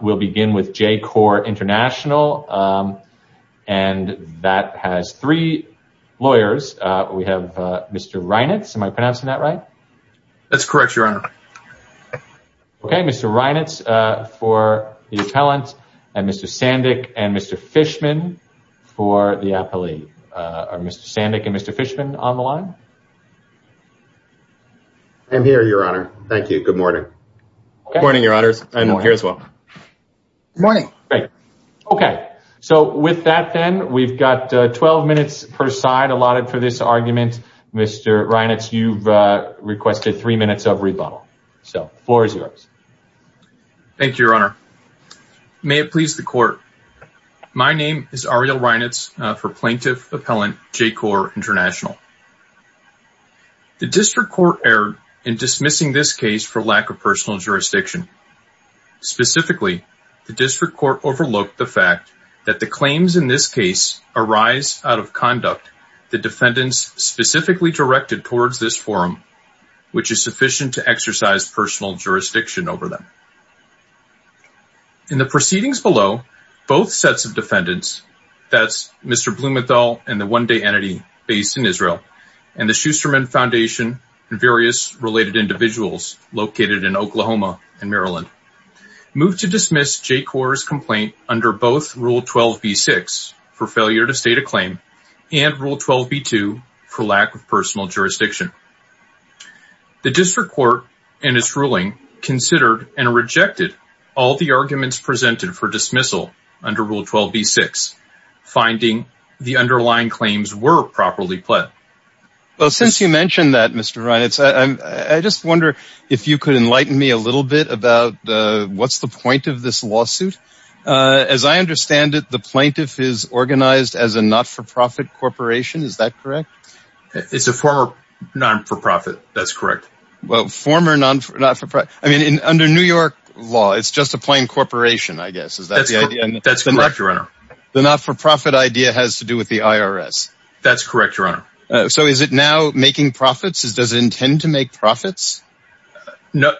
We'll begin with JCorps International and that has three lawyers. We have Mr. Reinitz, am I pronouncing that right? That's correct, Your Honor. Okay, Mr. Reinitz for the appellant and Mr. Sandick and Mr. Fishman for the appellee. Are Mr. Sandick and Mr. Fishman on the line? I'm here, Your Honor. Thank you. Good morning. Good morning, Your Honors. I'm here as well. Good morning. Okay, so with that then we've got 12 minutes per side allotted for this argument. Mr. Reinitz, you've requested three minutes of rebuttal. So the floor is yours. Thank you, Your Honor. May it please the court. My name is Ariel Reinitz for plaintiff appellant JCorps International. The district court erred in dismissing this case for lack of personal jurisdiction. Specifically, the district court overlooked the fact that the claims in this case arise out of conduct the defendants specifically directed towards this forum, which is sufficient to exercise personal jurisdiction over them. In the proceedings below, both sets of defendants, that's Mr. Blumenthal and the One Day Entity based in Israel and the Schusterman Foundation and various related individuals located in Oklahoma and Maryland, moved to dismiss JCorps' complaint under both Rule 12b-6 for failure to state a claim and Rule 12b-2 for lack of personal jurisdiction. The district court in its ruling considered and rejected all the arguments presented for dismissal under Rule 12b-6, finding the underlying claims were properly pled. Well, since you mentioned that, Mr. Reinitz, I just wonder if you could enlighten me a little bit about what's the point of this lawsuit. As I understand it, the plaintiff is organized as a not-for-profit corporation. Is that correct? It's a former not-for-profit. That's correct. Well, former not-for-profit. I mean, under New York law, it's just a plain corporation, I guess. Is that the idea? That's correct, Your Honor. The not-for-profit idea has to do with the IRS. That's correct, Your Honor. So is it now making profits? Does it intend to make profits? Not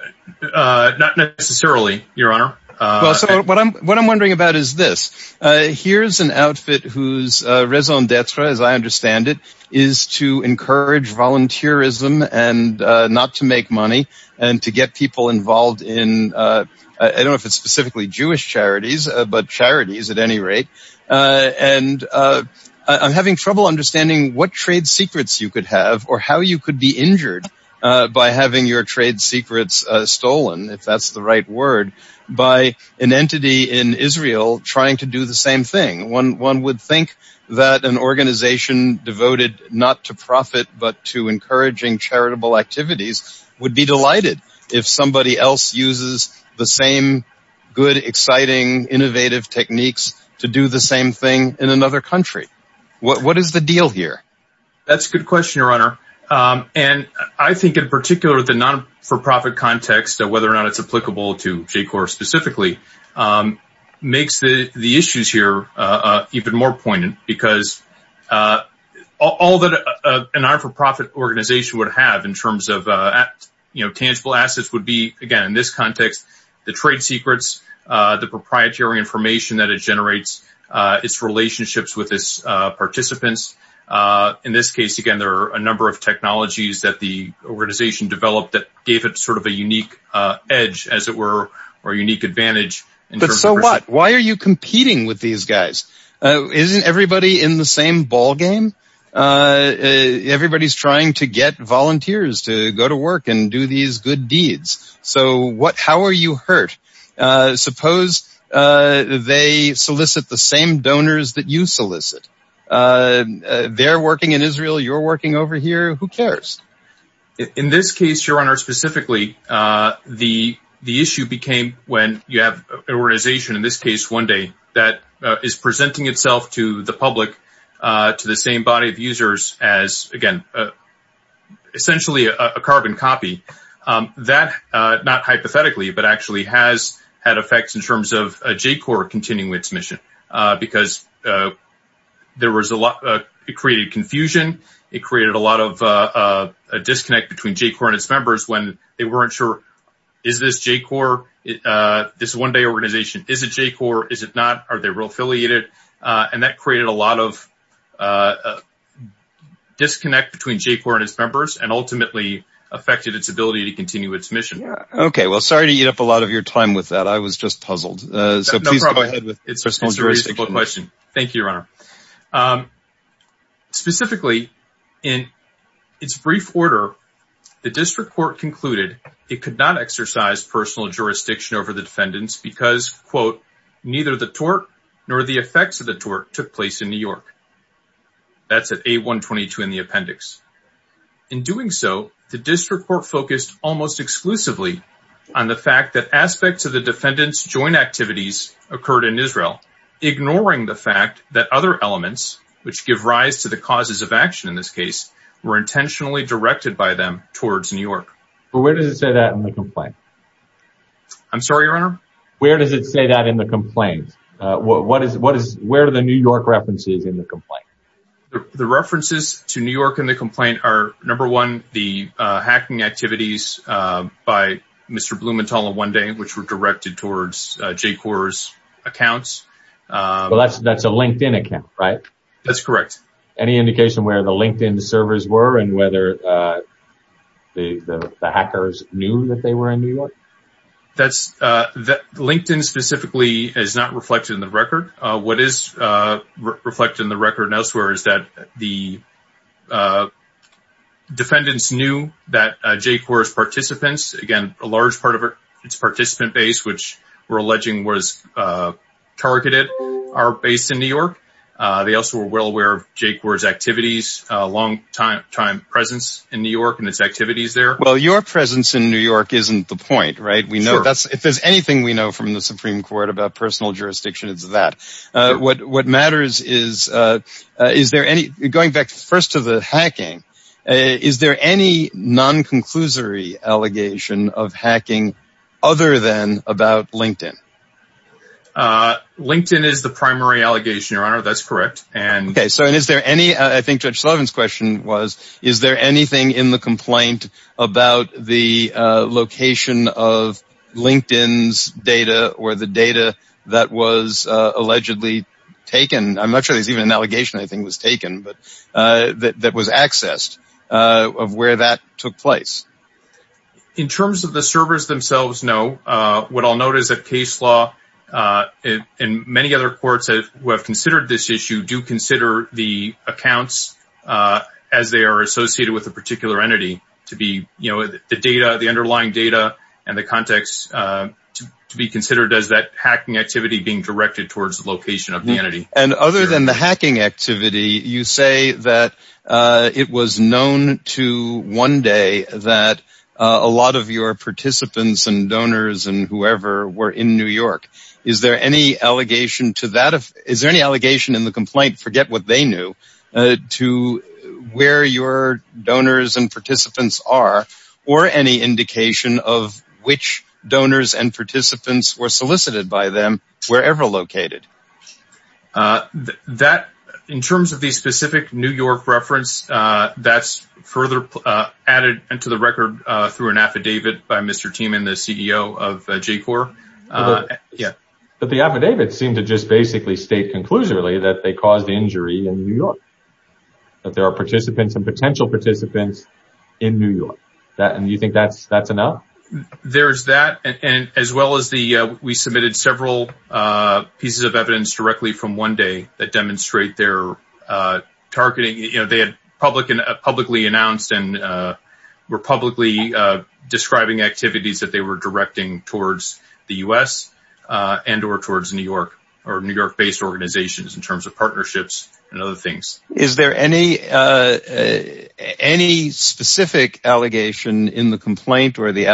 necessarily, Your Honor. Well, so what I'm wondering about is this. Here's an outfit whose raison d'etre, as I understand it, is to encourage volunteerism and not to make money and to get people involved in, I don't know if it's specifically Jewish charities, but charities at any rate, and I'm wondering what trade secrets you could have or how you could be injured by having your trade secrets stolen, if that's the right word, by an entity in Israel trying to do the same thing. One would think that an organization devoted not to profit but to encouraging charitable activities would be delighted if somebody else uses the same good, exciting, innovative techniques to do the same thing in another country. What is the deal here? That's a good question, Your Honor, and I think in particular the not-for-profit context, whether or not it's applicable to J-Corps specifically, makes the issues here even more poignant because all that an not-for-profit organization would have in terms of tangible assets would be, again, in this context, the trade secrets, the proprietary information that it generates, its relationships with its participants. In this case, again, there are a number of technologies that the organization developed that gave it sort of a unique edge, as it were, or a unique advantage. But so what? Why are you competing with these guys? Isn't everybody in the same ballgame? Everybody's trying to get volunteers to go to work and do these good deeds. So how are you hurt? Suppose they solicit the same donors that you solicit. They're working in Israel. You're working over here. Who cares? In this case, Your Honor, specifically, the issue became when you have an organization, in this case, 1Day, that is presenting itself to the public, to the same body of users as, again, essentially, a carbon copy. That, not hypothetically, but actually has had effects in terms of J-Corps continuing its mission because it created confusion. It created a lot of disconnect between J-Corps and its members when they weren't sure, is this J-Corps? This 1Day organization, is it J-Corps? Is it not? Are they real affiliated? And that created a lot of disconnect between J-Corps and its members and ultimately affected its ability to continue its mission. Okay. Well, sorry to eat up a lot of your time with that. I was just puzzled. So please go ahead. It's a very simple question. Thank you, Your Honor. Specifically, in its brief order, the district court concluded it could not exercise personal jurisdiction over the defendants because, quote, neither the tort nor the effects of the tort took place in New York. That's at A122 in the appendix. In doing so, the district court focused almost exclusively on the fact that aspects of the defendants' joint activities occurred in Israel, ignoring the fact that other elements, which give rise to the causes of action in this case, were intentionally directed by them towards New York. But where does it say that in the complaint? I'm sorry, Your Honor? Where does it say that in the complaint? Where are the New York references in the complaint? The references to New York in the complaint are, number one, the hacking activities by Mr. Blumenthal on 1Day, which were directed towards J-Corps' accounts. Well, that's a LinkedIn account, right? That's correct. Any indication where the LinkedIn servers were and whether the hackers knew that they were in New York? LinkedIn specifically is not reflected in the record. What is reflected in the record elsewhere is that the defendants knew that J-Corps' participants, again, a large part of its participant base, which we're alleging was targeted, are based in New York. They also were well aware of J-Corps' activities, long-time presence in New York and its activities there. Well, your presence in New York isn't the point, right? If there's anything we know from the Supreme Court about personal jurisdiction, it's that. What matters is, going back first to the hacking, is there any non-conclusory allegation of hacking other than about LinkedIn? LinkedIn is the primary allegation, your honor. That's correct. Okay, so is there any, I think Judge Sullivan's question was, is there anything in the complaint about the location of LinkedIn's data or the data that was allegedly taken? I'm not sure there's even an allegation I think was taken, but that was accessed of where that took place. In terms of the servers themselves, no. What I'll note is that case law and many other courts who have considered this issue do consider the accounts as they are associated with a particular entity to be, you know, the data, the underlying data and the context to be considered as that hacking activity being directed towards the location of the entity. And other than the hacking activity, you say that it was known to one day that a lot of your participants and donors and whoever were in New York. Is there any allegation to that? Is there any allegation in the complaint, forget what they knew, to where your donors and participants are, or any indication of which donors and participants were solicited by them wherever located? That, in terms of the specific New York reference, that's further added into the record through an affidavit by Mr. Thieme, the CEO of J-Corps. But the affidavits seem to just basically state conclusively that they caused the injury in New York, that there are participants and potential participants in New York. And you think that's enough? There's that, and as well as the, we submitted several pieces of evidence directly from one day that demonstrate their targeting, you know, they had publicly announced and were publicly describing activities that they were directing towards the U.S. and or towards New York or New York-based organizations in terms of partnerships and other things. Is there any specific allegation in the complaint or the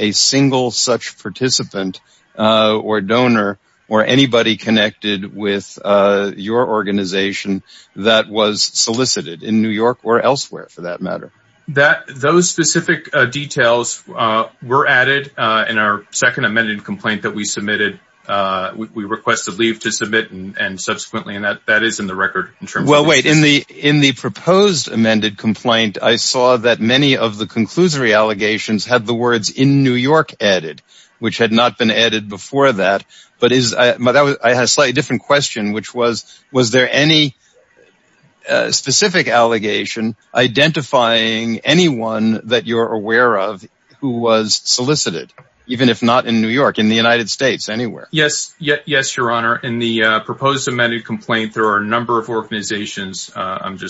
a single such participant or donor or anybody connected with your organization that was solicited in New York or elsewhere, for that matter? Those specific details were added in our second amended complaint that we submitted. We requested leave to submit and subsequently, and that is in the record. Well, wait, in the proposed amended complaint, I saw that many of the conclusory allegations had the words in New York added, which had not been added before that. But I had a slightly different question, which was, was there any specific allegation identifying anyone that you're aware of who was solicited, even if not in New York, in the United States, anywhere? Yes, yes, your honor. In the proposed amended complaint, there are a number of organizations that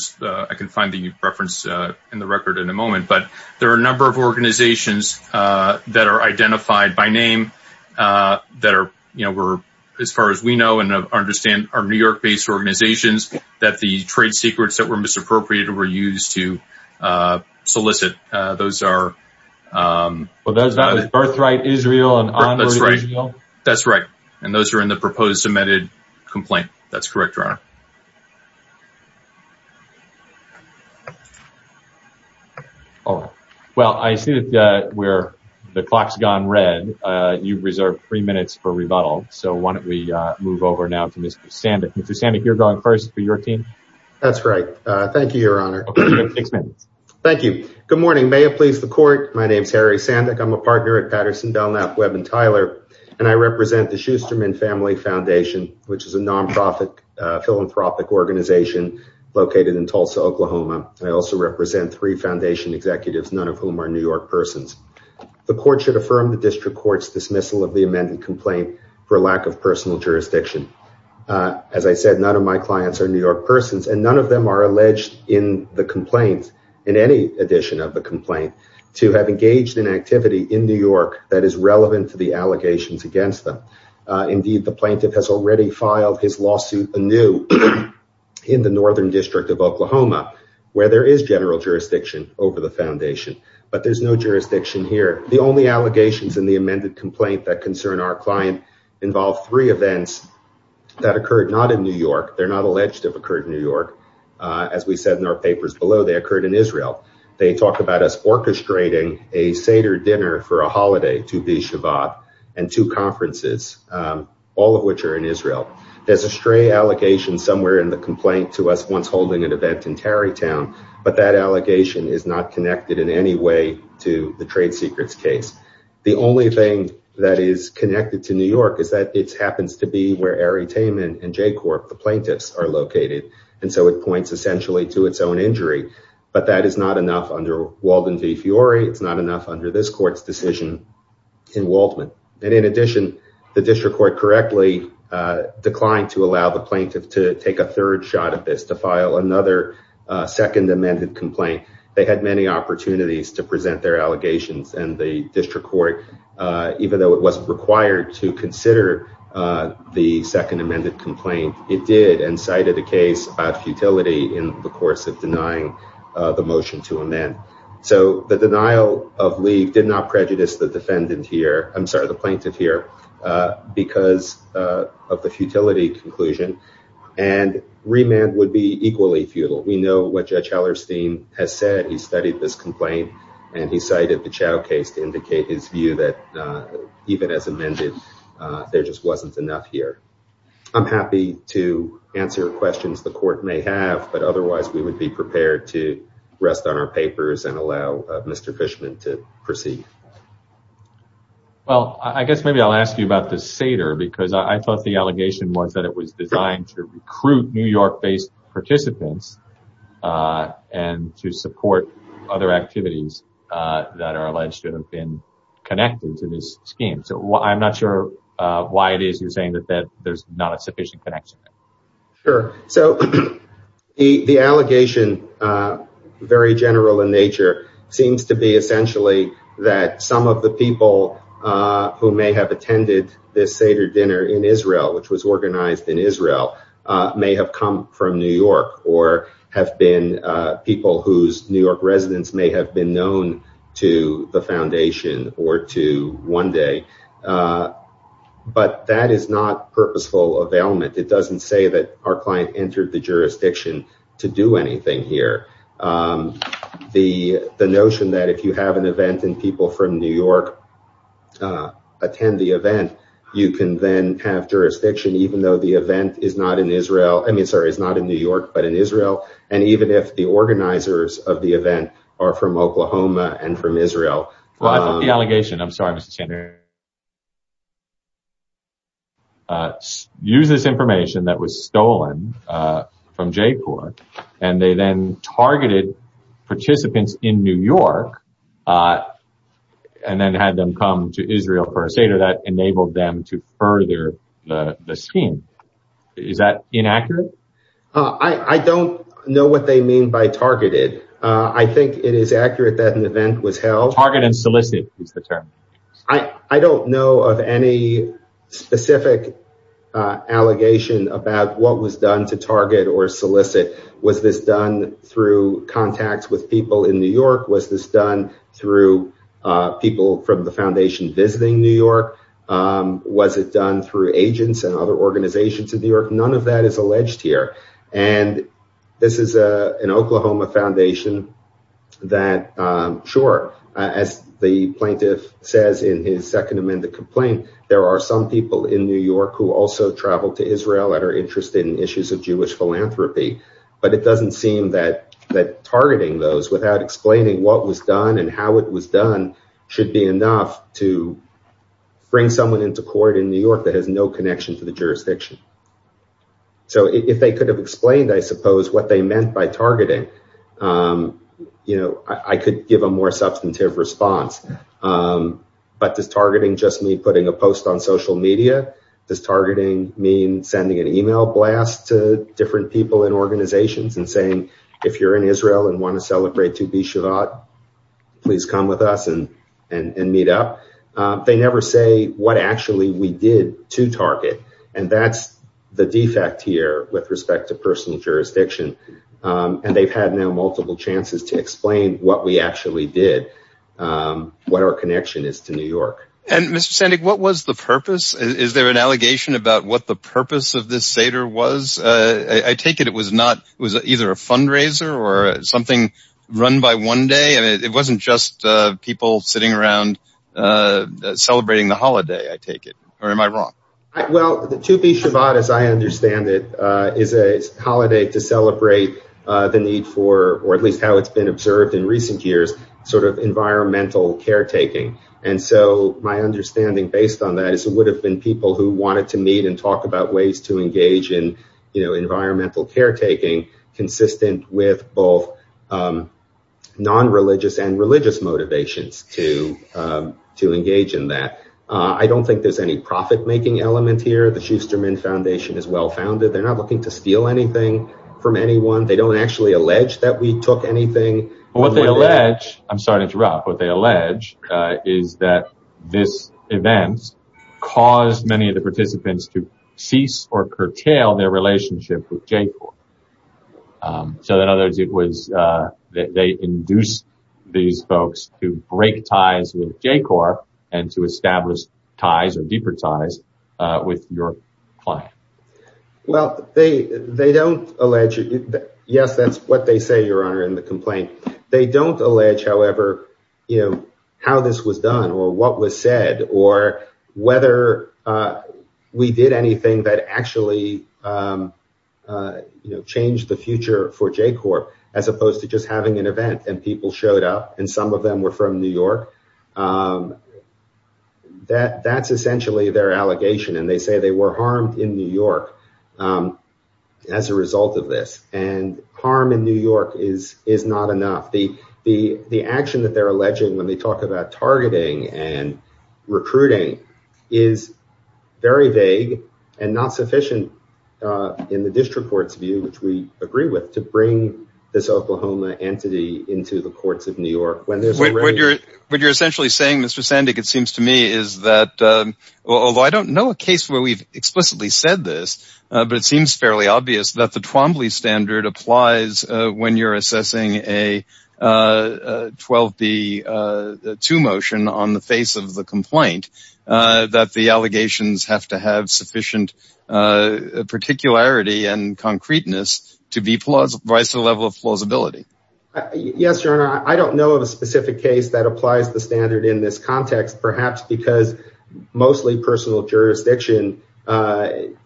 are identified by name that are, you know, we're, as far as we know and understand, are New York-based organizations that the trade secrets that were misappropriated were used to solicit. Those are... Well, that was Birthright Israel and Onward Israel. That's right, and those are in the proposed amended complaint. That's correct, your honor. All right, well, I see that we're, the clock's gone red. You've reserved three minutes for rebuttal, so why don't we move over now to Mr. Sandick. Mr. Sandick, you're going first for your team. That's right. Thank you, your honor. Okay, you have six minutes. Thank you. Good morning. May it please the court. My name is Harry Sandick. I'm a partner at Patterson, Belknap, Webb & Tyler, and I represent the Schusterman Family Foundation, which is a non-profit philanthropic organization located in Tulsa, Oklahoma. I also represent three foundation executives, none of whom are New York persons. The court should affirm the district court's dismissal of the amended complaint for lack of personal jurisdiction. As I said, none of my clients are New York persons, and none of them are alleged in the complaint, in any edition of the complaint, to have engaged in activity in New York that is relevant to the allegations against them. Indeed, the plaintiff has already filed his lawsuit anew in the northern district of Oklahoma, where there is general jurisdiction over the foundation, but there's no jurisdiction here. The only allegations in the amended complaint that concern our client involve three events that occurred not in New York. They're not alleged to have occurred in New York. As we said in our papers below, they occurred in Israel. They talk about us orchestrating a Seder dinner for a holiday, 2 B Shabbat, and two conferences, all of which are in Israel. There's a stray allegation somewhere in the complaint to us once holding an event in Tarry Town, but that allegation is not connected in any way to the trade secrets case. The only thing that is connected to New York is that it happens to be where Ari Taman and J Corp, the plaintiffs, are located, and so it points essentially to its own injury, but that is not enough under Walden v. Fiore. It's not enough under this court's decision in Waldman. In addition, the district court correctly declined to allow the plaintiff to take a third shot at this, to file another second amended complaint. They had many opportunities to present their allegations and the district court, even though it wasn't required to consider the second amended complaint, it did and cited a case about futility in the course of denying the motion to amend. So the denial of leave did not prejudice the defendant here, I'm sorry, the plaintiff here, because of the futility conclusion and remand would be equally futile. We know what Judge Hallerstein has said. He studied this complaint and he cited the Chao case to indicate his view that even as amended, there just wasn't enough here. I'm happy to answer questions the court may have, but otherwise we would be prepared to rest on our papers and allow Mr. Fishman to proceed. Well, I guess maybe I'll ask you about the Seder because I thought the allegation was that it was designed to recruit New York-based participants and to support other activities that are alleged to have been connected to this scheme. So I'm not sure why it is you're saying that there's not a sufficient connection. Sure. So the allegation, very general in nature, seems to be essentially that some of the people who may have attended this Seder dinner in Israel, which was organized in Israel, may have come from New York or have been people whose New York residence may have been known to the foundation or to One Day, but that is not purposeful availment. It doesn't say that our client entered the jurisdiction to do anything here. The notion that if you have an event and people from New York attend the event, you can then have jurisdiction even though the event is not in Israel. I mean, sorry, it's not in New York, but in Israel. And even if the organizers of the event are from Oklahoma and from Israel. Well, I think the allegation, I'm sorry, Mr. Senator, uses information that was stolen from JPOR and they then targeted participants in New York and then had them come to Israel for a Seder that enabled them to further the scheme. Is that I think it is accurate that an event was held. I don't know of any specific allegation about what was done to target or solicit. Was this done through contacts with people in New York? Was this done through people from the foundation visiting New York? Was it done through agents and other organizations in New York? None of that is alleged here. And this is an Oklahoma foundation that, sure, as the plaintiff says in his second amended complaint, there are some people in New York who also traveled to Israel that are interested in issues of Jewish philanthropy. But it doesn't seem that targeting those without explaining what was done and how it was done should be enough to bring someone into court in New York that has no connection to the jurisdiction. So if they could have explained, I suppose, what they meant by targeting, I could give a more substantive response. But does targeting just mean putting a post on social media? Does targeting mean sending an email blast to different people in organizations and saying, if you're in Israel and want to target? And that's the defect here with respect to personal jurisdiction. And they've had now multiple chances to explain what we actually did, what our connection is to New York. And Mr. Sandik, what was the purpose? Is there an allegation about what the purpose of this Seder was? I take it it was either a fundraiser or something run by one day. It wasn't just people sitting around celebrating the holiday, I take it. Or am I wrong? Well, the 2B Shabbat, as I understand it, is a holiday to celebrate the need for, or at least how it's been observed in recent years, sort of environmental caretaking. And so my understanding based on that is it would have been people who wanted to meet and talk about ways to engage in environmental caretaking consistent with both non-religious and religious motivations to engage in that. I don't think there's any profit-making element here. The Schusterman Foundation is well-founded. They're not looking to steal anything from anyone. They don't actually allege that we took anything. But what they allege, I'm sorry to interrupt, what they allege is that this event caused many participants to cease or curtail their relationship with JCORP. So in other words, they induced these folks to break ties with JCORP and to establish ties or deeper ties with your client. Well, they don't allege, yes, that's what they say, Your Honor, in the complaint. They don't allege, however, how this was done or what was said or whether we did anything that actually changed the future for JCORP as opposed to just having an event and people showed up, and some of them were from New York. That's essentially their allegation. And they say the action that they're alleging when they talk about targeting and recruiting is very vague and not sufficient in the district court's view, which we agree with, to bring this Oklahoma entity into the courts of New York. What you're essentially saying, Mr. Sandik, it seems to me is that although I don't know a case where we've explicitly said this, but it seems fairly obvious that the Twombly standard applies when you're assessing a 12b-2 motion on the face of the complaint, that the allegations have to have sufficient particularity and concreteness to be vice a level of plausibility. Yes, Your Honor. I don't know of a specific case that applies the standard in this context, perhaps because mostly personal jurisdiction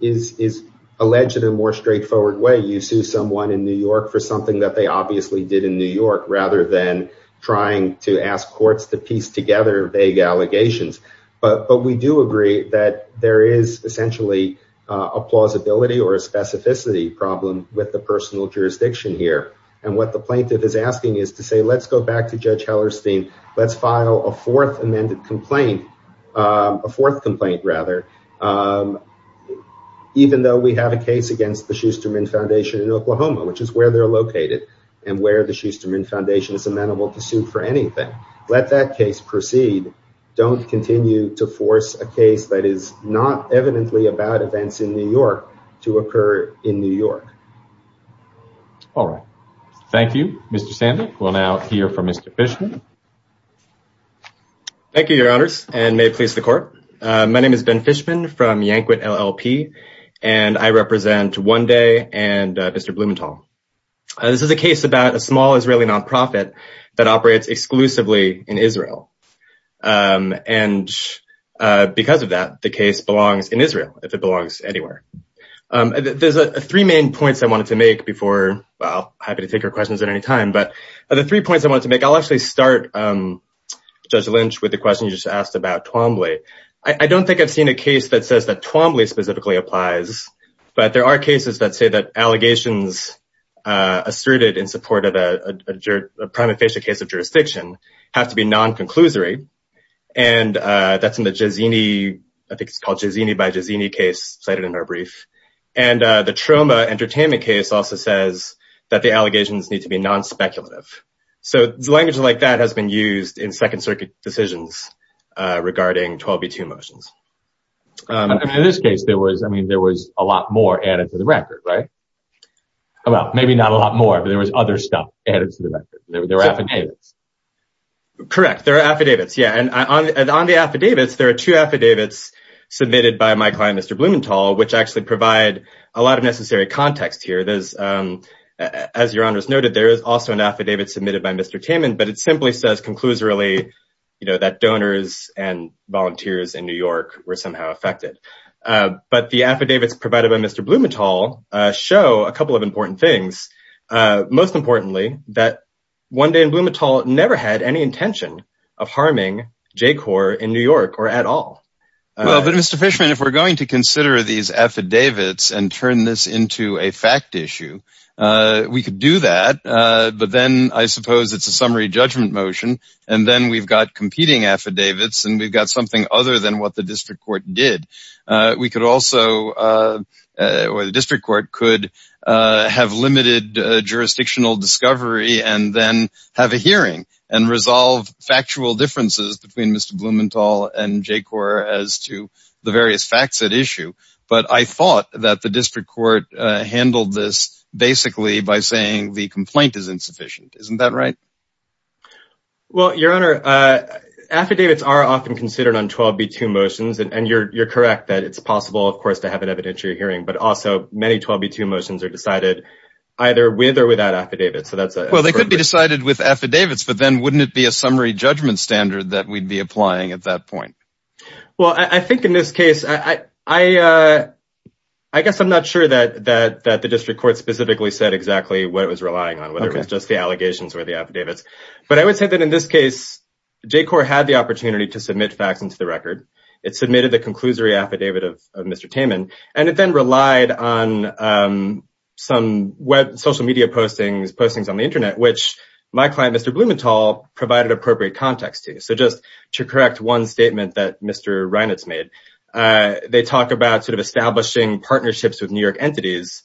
is alleged in a more straightforward way. You sue someone in New York for something that they obviously did in New York rather than trying to ask courts to piece together vague allegations. But we do agree that there is essentially a plausibility or a specificity problem with the personal jurisdiction here. And what the plaintiff is asking is to say, let's go back to Judge Hellerstein. Let's file a fourth amended complaint, a fourth complaint rather, even though we have a case against the Schusterman Foundation in Oklahoma, which is where they're located and where the Schusterman Foundation is amenable to sue for anything. Let that case proceed. Don't continue to force a case that is not evidently about events in New York to occur in New York. All right. Thank you, Mr. Sandek. We'll now hear from Mr. Fishman. Thank you, Your Honors, and may it please the court. My name is Ben Fishman from Yankwit LLP, and I represent One Day and Mr. Blumenthal. This is a case about a small Israeli nonprofit that operates exclusively in Israel. And because of that, the case belongs in Israel, if it belongs anywhere. There's three main points I wanted to make before, well, happy to take your questions at any time. But the three points I wanted to make, I'll actually start, Judge Lynch, with the question you just asked about Twombly. I don't think I've seen a case that says that Twombly specifically applies, but there are cases that say that allegations asserted in support of a prima facie case of the Zeni case cited in our brief. And the Troma Entertainment case also says that the allegations need to be non-speculative. So language like that has been used in Second Circuit decisions regarding 12b2 motions. In this case, there was, I mean, there was a lot more added to the record, right? Well, maybe not a lot more, but there was other stuff added to the record. There were affidavits. Correct. There are affidavits. Yeah. And on the affidavits, there are two affidavits submitted by my client, Mr. Blumenthal, which actually provide a lot of necessary context here. As your honors noted, there is also an affidavit submitted by Mr. Taman, but it simply says, concludes really, you know, that donors and volunteers in New York were somehow affected. But the affidavits provided by Mr. Blumenthal show a couple of important things. Most importantly, that one day Blumenthal never had any intention of harming J-Corps in New York or at all. But Mr. Fishman, if we're going to consider these affidavits and turn this into a fact issue, we could do that. But then I suppose it's a summary judgment motion. And then we've got competing affidavits and we've got something other than what the district court did. We could also, or the district court could have limited jurisdictional discovery and then have a the various facts at issue. But I thought that the district court handled this basically by saying the complaint is insufficient. Isn't that right? Well, your honor, affidavits are often considered on 12b2 motions and you're correct that it's possible, of course, to have an evidentiary hearing, but also many 12b2 motions are decided either with or without affidavits. So that's... Well, they could be decided with affidavits, but then wouldn't it be a summary judgment standard that we'd be applying at that point? Well, I think in this case, I guess I'm not sure that the district court specifically said exactly what it was relying on, whether it was just the allegations or the affidavits. But I would say that in this case, J-Corps had the opportunity to submit facts into the record. It submitted the conclusory affidavit of Mr. Taman and it then relied on some social media postings on the internet, which my client, Mr. Blumenthal, provided appropriate context to. So just to correct one statement that Mr. Reinitz made, they talk about sort of establishing partnerships with New York entities.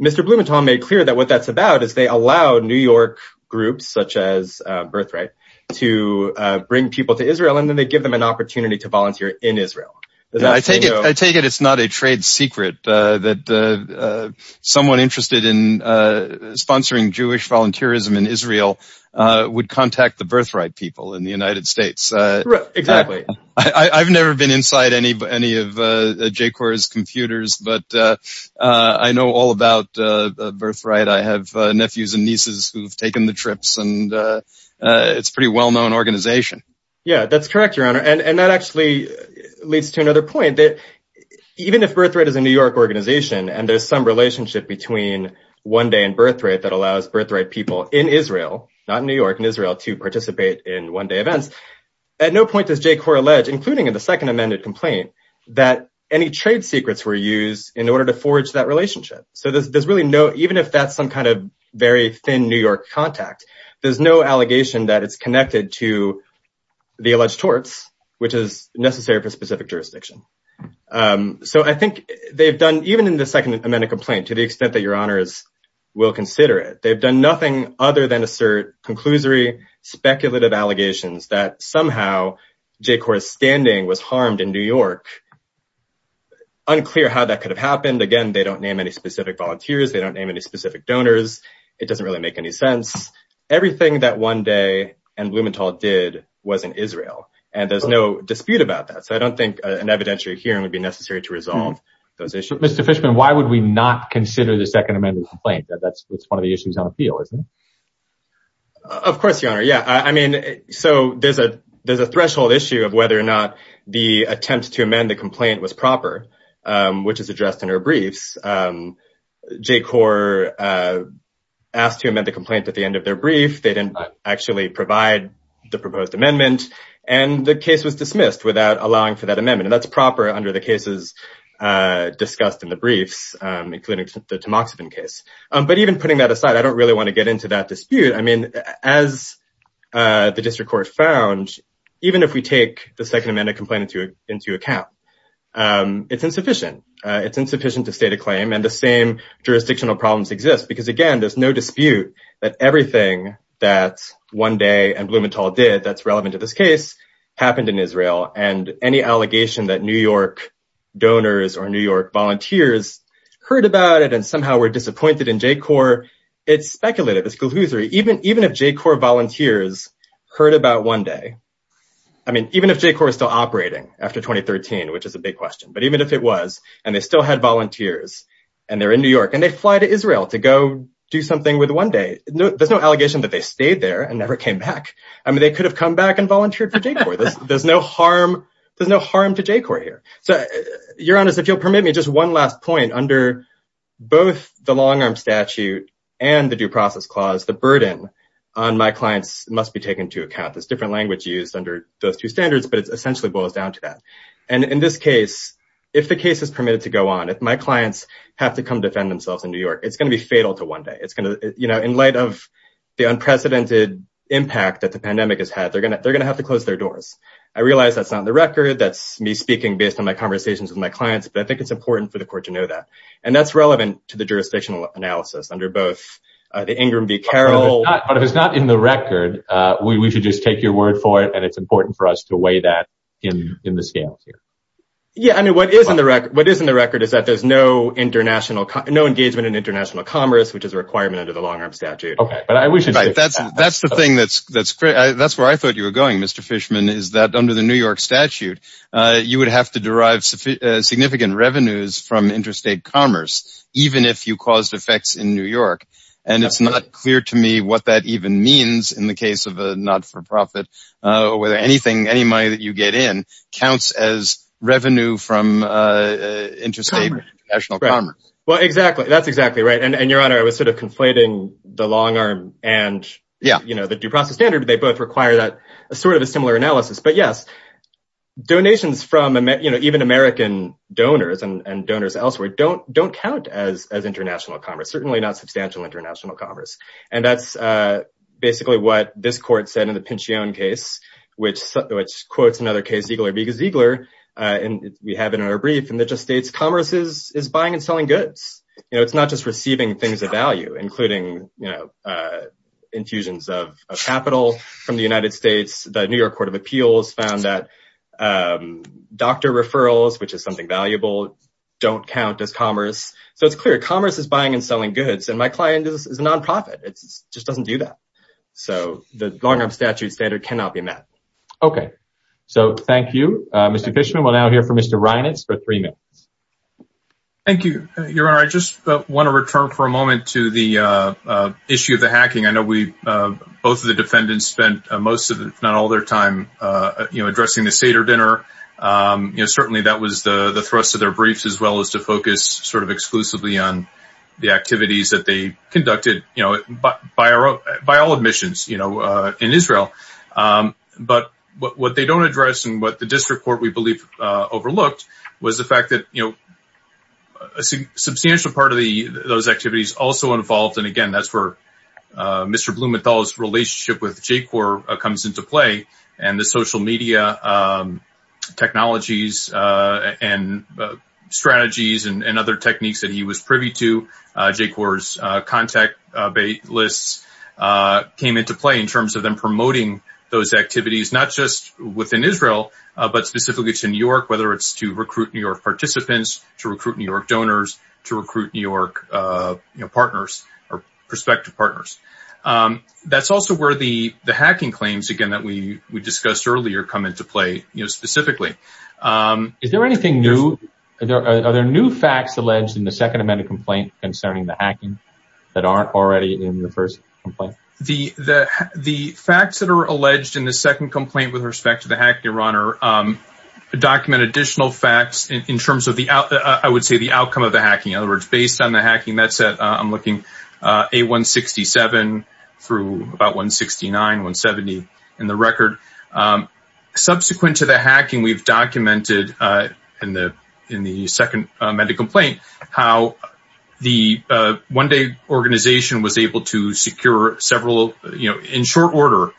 Mr. Blumenthal made clear that what that's about is they allow New York groups such as Birthright to bring people to Israel and then they give them an opportunity to volunteer in Israel. I take it it's not a trade secret that someone interested in sponsoring Jewish volunteerism in Israel would contact the Birthright people in the United States. Exactly. I've never been inside any of J-Corps' computers, but I know all about Birthright. I have nephews and nieces who've taken the trips and it's a pretty well-known organization. Yeah, that's correct, Your Honor. And that actually leads to another point that even if Birthright is a New York organization and there's some relationship between One Day and Birthright that allows Birthright people not in New York, in Israel, to participate in One Day events, at no point does J-Corps allege, including in the second amended complaint, that any trade secrets were used in order to forge that relationship. So there's really no, even if that's some kind of very thin New York contact, there's no allegation that it's connected to the alleged torts, which is necessary for specific jurisdiction. So I think they've done, even in the second amended complaint, to the extent that we'll consider it. They've done nothing other than assert conclusory, speculative allegations that somehow J-Corps' standing was harmed in New York. Unclear how that could have happened. Again, they don't name any specific volunteers. They don't name any specific donors. It doesn't really make any sense. Everything that One Day and Blumenthal did was in Israel and there's no dispute about that. So I don't think an evidentiary hearing would be necessary to resolve those issues. Mr. Fishman, why would we not consider the second amended complaint? That's one of the issues on appeal, isn't it? Of course, Your Honor. Yeah. I mean, so there's a threshold issue of whether or not the attempt to amend the complaint was proper, which is addressed in our briefs. J-Corps asked to amend the complaint at the end of their brief. They didn't actually provide the proposed amendment and the case was dismissed without allowing for that amendment. And that's discussed in the briefs, including the Tamoxifen case. But even putting that aside, I don't really want to get into that dispute. I mean, as the district court found, even if we take the second amended complaint into account, it's insufficient. It's insufficient to state a claim and the same jurisdictional problems exist because, again, there's no dispute that everything that One Day and Blumenthal did that's relevant to this case happened in Israel. And any allegation that New York owners or New York volunteers heard about it and somehow were disappointed in J-Corps, it's speculative. It's gloosery. Even if J-Corps volunteers heard about One Day, I mean, even if J-Corps is still operating after 2013, which is a big question, but even if it was and they still had volunteers and they're in New York and they fly to Israel to go do something with One Day, there's no allegation that they stayed there and never came back. I mean, they could have come back and volunteered for J-Corps. There's no harm to J-Corps here. So Your Honor, if you'll permit me, just one last point. Under both the long arm statute and the due process clause, the burden on my clients must be taken into account. There's different language used under those two standards, but it essentially boils down to that. And in this case, if the case is permitted to go on, if my clients have to come defend themselves in New York, it's going to be fatal to One Day. It's going to, you know, in light of the unprecedented impact that the pandemic has had, they're going to have to close their doors. I realize that's not on the record. That's me speaking based on my conversations with my clients, but I think it's important for the court to know that. And that's relevant to the jurisdictional analysis under both the Ingram v. Carroll. But if it's not in the record, we should just take your word for it. And it's important for us to weigh that in the scale here. Yeah. I mean, what is in the record, what is in the record is that there's no international, no engagement in international commerce, which is a requirement under the long arm statute. Okay. But I wish that's the thing that's great. That's where I thought you were going, Mr. Fishman, is that under the New York statute, you would have to derive significant revenues from interstate commerce, even if you caused effects in New York. And it's not clear to me what that even means in the case of a not-for-profit, or whether anything, any money that you get in counts as revenue from interstate international commerce. Well, exactly. That's exactly right. And your honor, I was sort of conflating the long arm and, you know, the due process standard. They both require that sort of a similar analysis. But yes, donations from, you know, even American donors and donors elsewhere don't count as international commerce, certainly not substantial international commerce. And that's basically what this court said in the Pinchione case, which quotes another case, Ziegler v. Ziegler, and we have it in our brief, and it just states commerce is buying and selling goods. You know, it's not just receiving things of value, including, you know, infusions of capital from the United States. The New York Court of Appeals found that doctor referrals, which is something valuable, don't count as commerce. So it's clear commerce is buying and selling goods, and my client is a non-profit. It just doesn't do that. So the long arm statute standard cannot be met. Okay, so thank you, Mr. Fishman. We'll now hear from Mr. Reinitz for three minutes. Thank you, your honor. I just want to return for a moment to the issue of the hacking. I know we, both of the defendants spent most of, if not all their time, you know, addressing the Seder dinner. You know, certainly that was the thrust of their briefs, as well as to focus sort of exclusively on the activities that they conducted, you know, by all admissions, you know, in Israel. But what they don't address and what the district court, we believe, overlooked was the fact that, you know, a substantial part of those activities also involved, and again, that's where Mr. Blumenthal's relationship with J-Corps comes into play and the social media technologies and strategies and other techniques that he was privy to. J-Corps' contact lists came into play in terms of them promoting those activities, not just within Israel, but specifically to New York, whether it's to recruit New York participants, to recruit New York donors, to recruit New York, you know, partners or prospective partners. That's also where the hacking claims, again, that we discussed earlier come into play, you know, specifically. Is there anything new? Are there new facts alleged in the second amendment complaint concerning the hacking that aren't already in the first complaint? The facts that are alleged in the second complaint with respect to the hacking, Your Honor, document additional facts in terms of the, I would say, the outcome of the hacking. In other words, based on the hacking, that's, I'm looking, A-167 through about 169, 170 in the record. Subsequent to the hacking, we've documented in the second amendment complaint how the one-day organization was able to secure several, you know, in short order,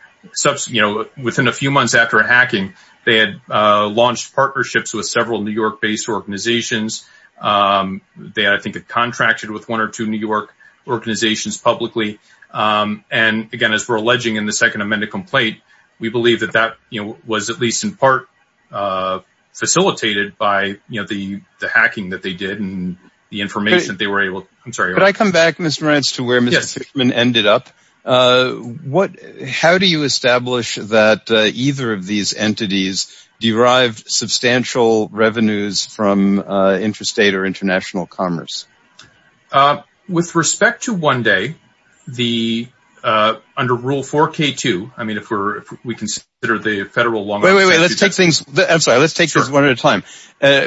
you know, within a few months after a hacking, they had launched partnerships with several New York-based organizations. They, I think, had contracted with one or two New York organizations publicly. And, again, as we're alleging in the second amendment complaint, we believe that that, you know, was at least in part facilitated by, you know, the hacking that they did and the information that they were able, I'm sorry. Could I come back, Mr. Marantz, to where Mr. Stickman ended up? What, how do you establish that either of these entities derived substantial revenues from interstate or international commerce? With respect to one-day, the, under Rule 4K2, I mean, if we're, if we consider the federal long- Wait, wait, wait. Let's take things, I'm sorry, let's take this one at a time.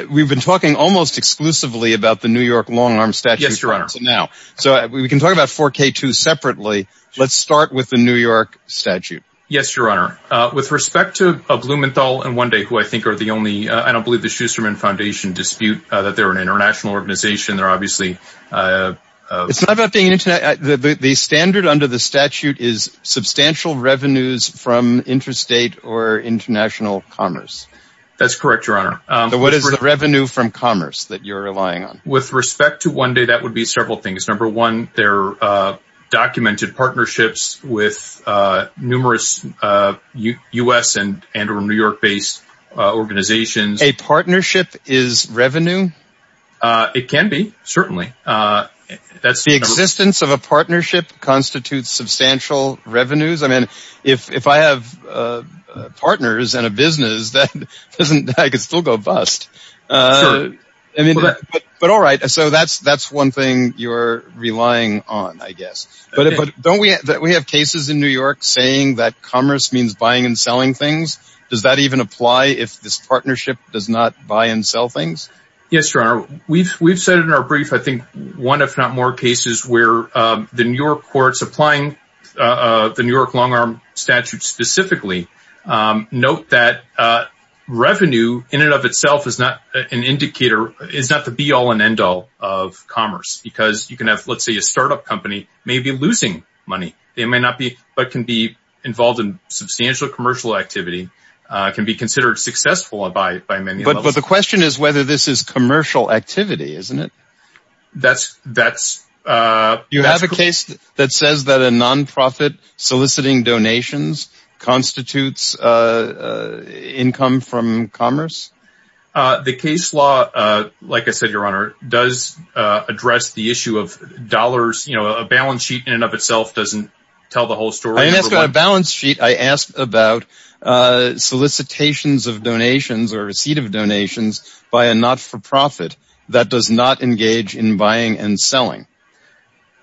We've been talking almost exclusively about the New York long-arm statute for now. So we can talk about 4K2 separately. Let's start with the New York statute. Yes, Your Honor. With respect to Blumenthal and One Day, who I think are the only, I don't believe the Schusterman Foundation dispute that they're an international organization. They're obviously- It's not about being international. The standard under the statute is substantial revenues from interstate or international commerce. That's correct, Your Honor. What is the revenue from commerce that you're relying on? With respect to One Day, that would be several things. Number one, they're documented partnerships with numerous U.S. and or New York-based organizations. A partnership is revenue? It can be, certainly. The existence of a partnership constitutes substantial revenues? I mean, if I have partners and a business, that doesn't, I could still go bust. Certainly. But all right. So that's one thing you're relying on, I guess. But don't we have cases in New York saying that commerce means buying and selling things? Does that even apply if this partnership does not buy and sell things? Yes, Your Honor. We've said in our brief, I think one if not more cases where the New York courts applying the New York long-arm statute specifically note that revenue in and of itself is not an indicator, is not the be-all and end-all of commerce because you can have, let's say, a startup company may be losing money. They may not be, but can be involved in substantial commercial activity, can be considered successful by many. But the question is whether this is commercial activity, isn't it? That's- You have a case that says that a non-profit soliciting donations constitutes income from commerce? The case law, like I said, Your Honor, does address the issue of dollars. You know, a balance sheet in and of itself doesn't tell the whole story. I didn't ask about a balance sheet. I asked about solicitations of donations or receipt of donations by a not-for-profit that does not engage in buying and selling.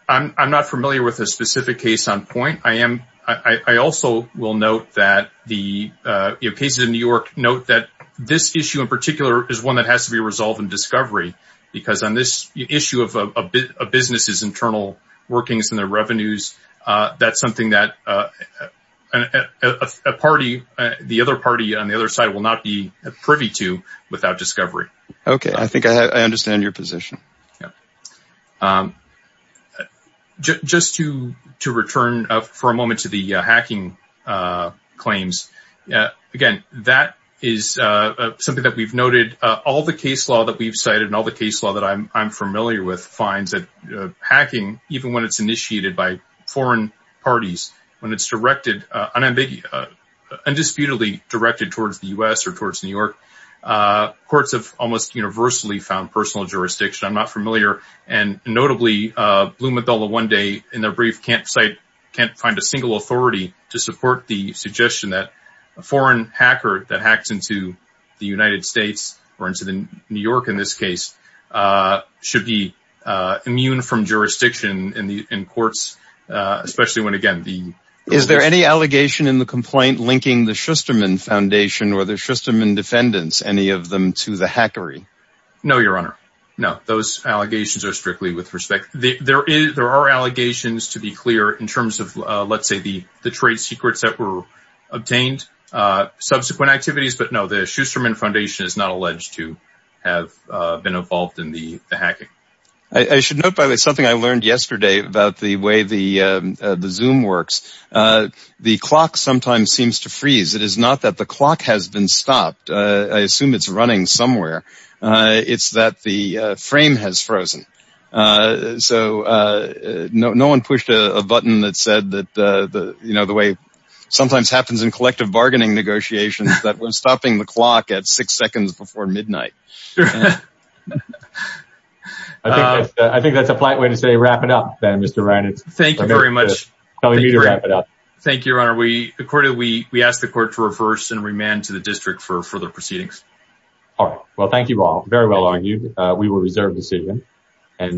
I'm not familiar with a specific case on point. I also will note that the cases in New York note that this issue in particular is one that has to be resolved in discovery because on this issue of businesses' internal workings and their revenues, that's something that a party, the other party on the other side will not be privy to without discovery. Okay. I think I understand your position. Just to return for a moment to the hacking claims, again, that is something that we've noted. All the case law that we've cited and all the case law that I'm familiar with finds that hacking, even when it's initiated by foreign parties, when it's undisputedly directed towards the U.S. or towards New York, courts have almost universally found personal jurisdiction. I'm not familiar. Notably, Bloom and Bella one day in their brief can't find a single authority to support the suggestion that a foreign hacker that hacks into the United States or into New York in this case should be immune from jurisdiction in courts, especially when, again, the... Is there any allegation in the complaint linking the Shusterman Foundation or the Shusterman defendants, any of them, to the hackery? No, your honor. No, those allegations are strictly with respect. There are allegations, to be clear, in terms of, let's say, the trade secrets that were obtained, subsequent activities, but no, the Shusterman Foundation is not alleged to have been involved in the hacking. I should note, by the way, something I learned yesterday about the way the Zoom works. The clock sometimes seems to freeze. It is not that the clock has been stopped. I assume it's running somewhere. It's that the frame has frozen. So, no one pushed a button that said that, you know, the way sometimes happens in collective bargaining negotiations, that we're stopping the clock at six seconds before midnight. I think that's a polite way to say wrap it up then, Mr. Reynolds. Thank you very much. We need to wrap it up. Thank you, your honor. Accordingly, we ask the court to reverse and remand to the district for further proceedings. All right. Well, thank you all. Very well argued. We will reserve the decision.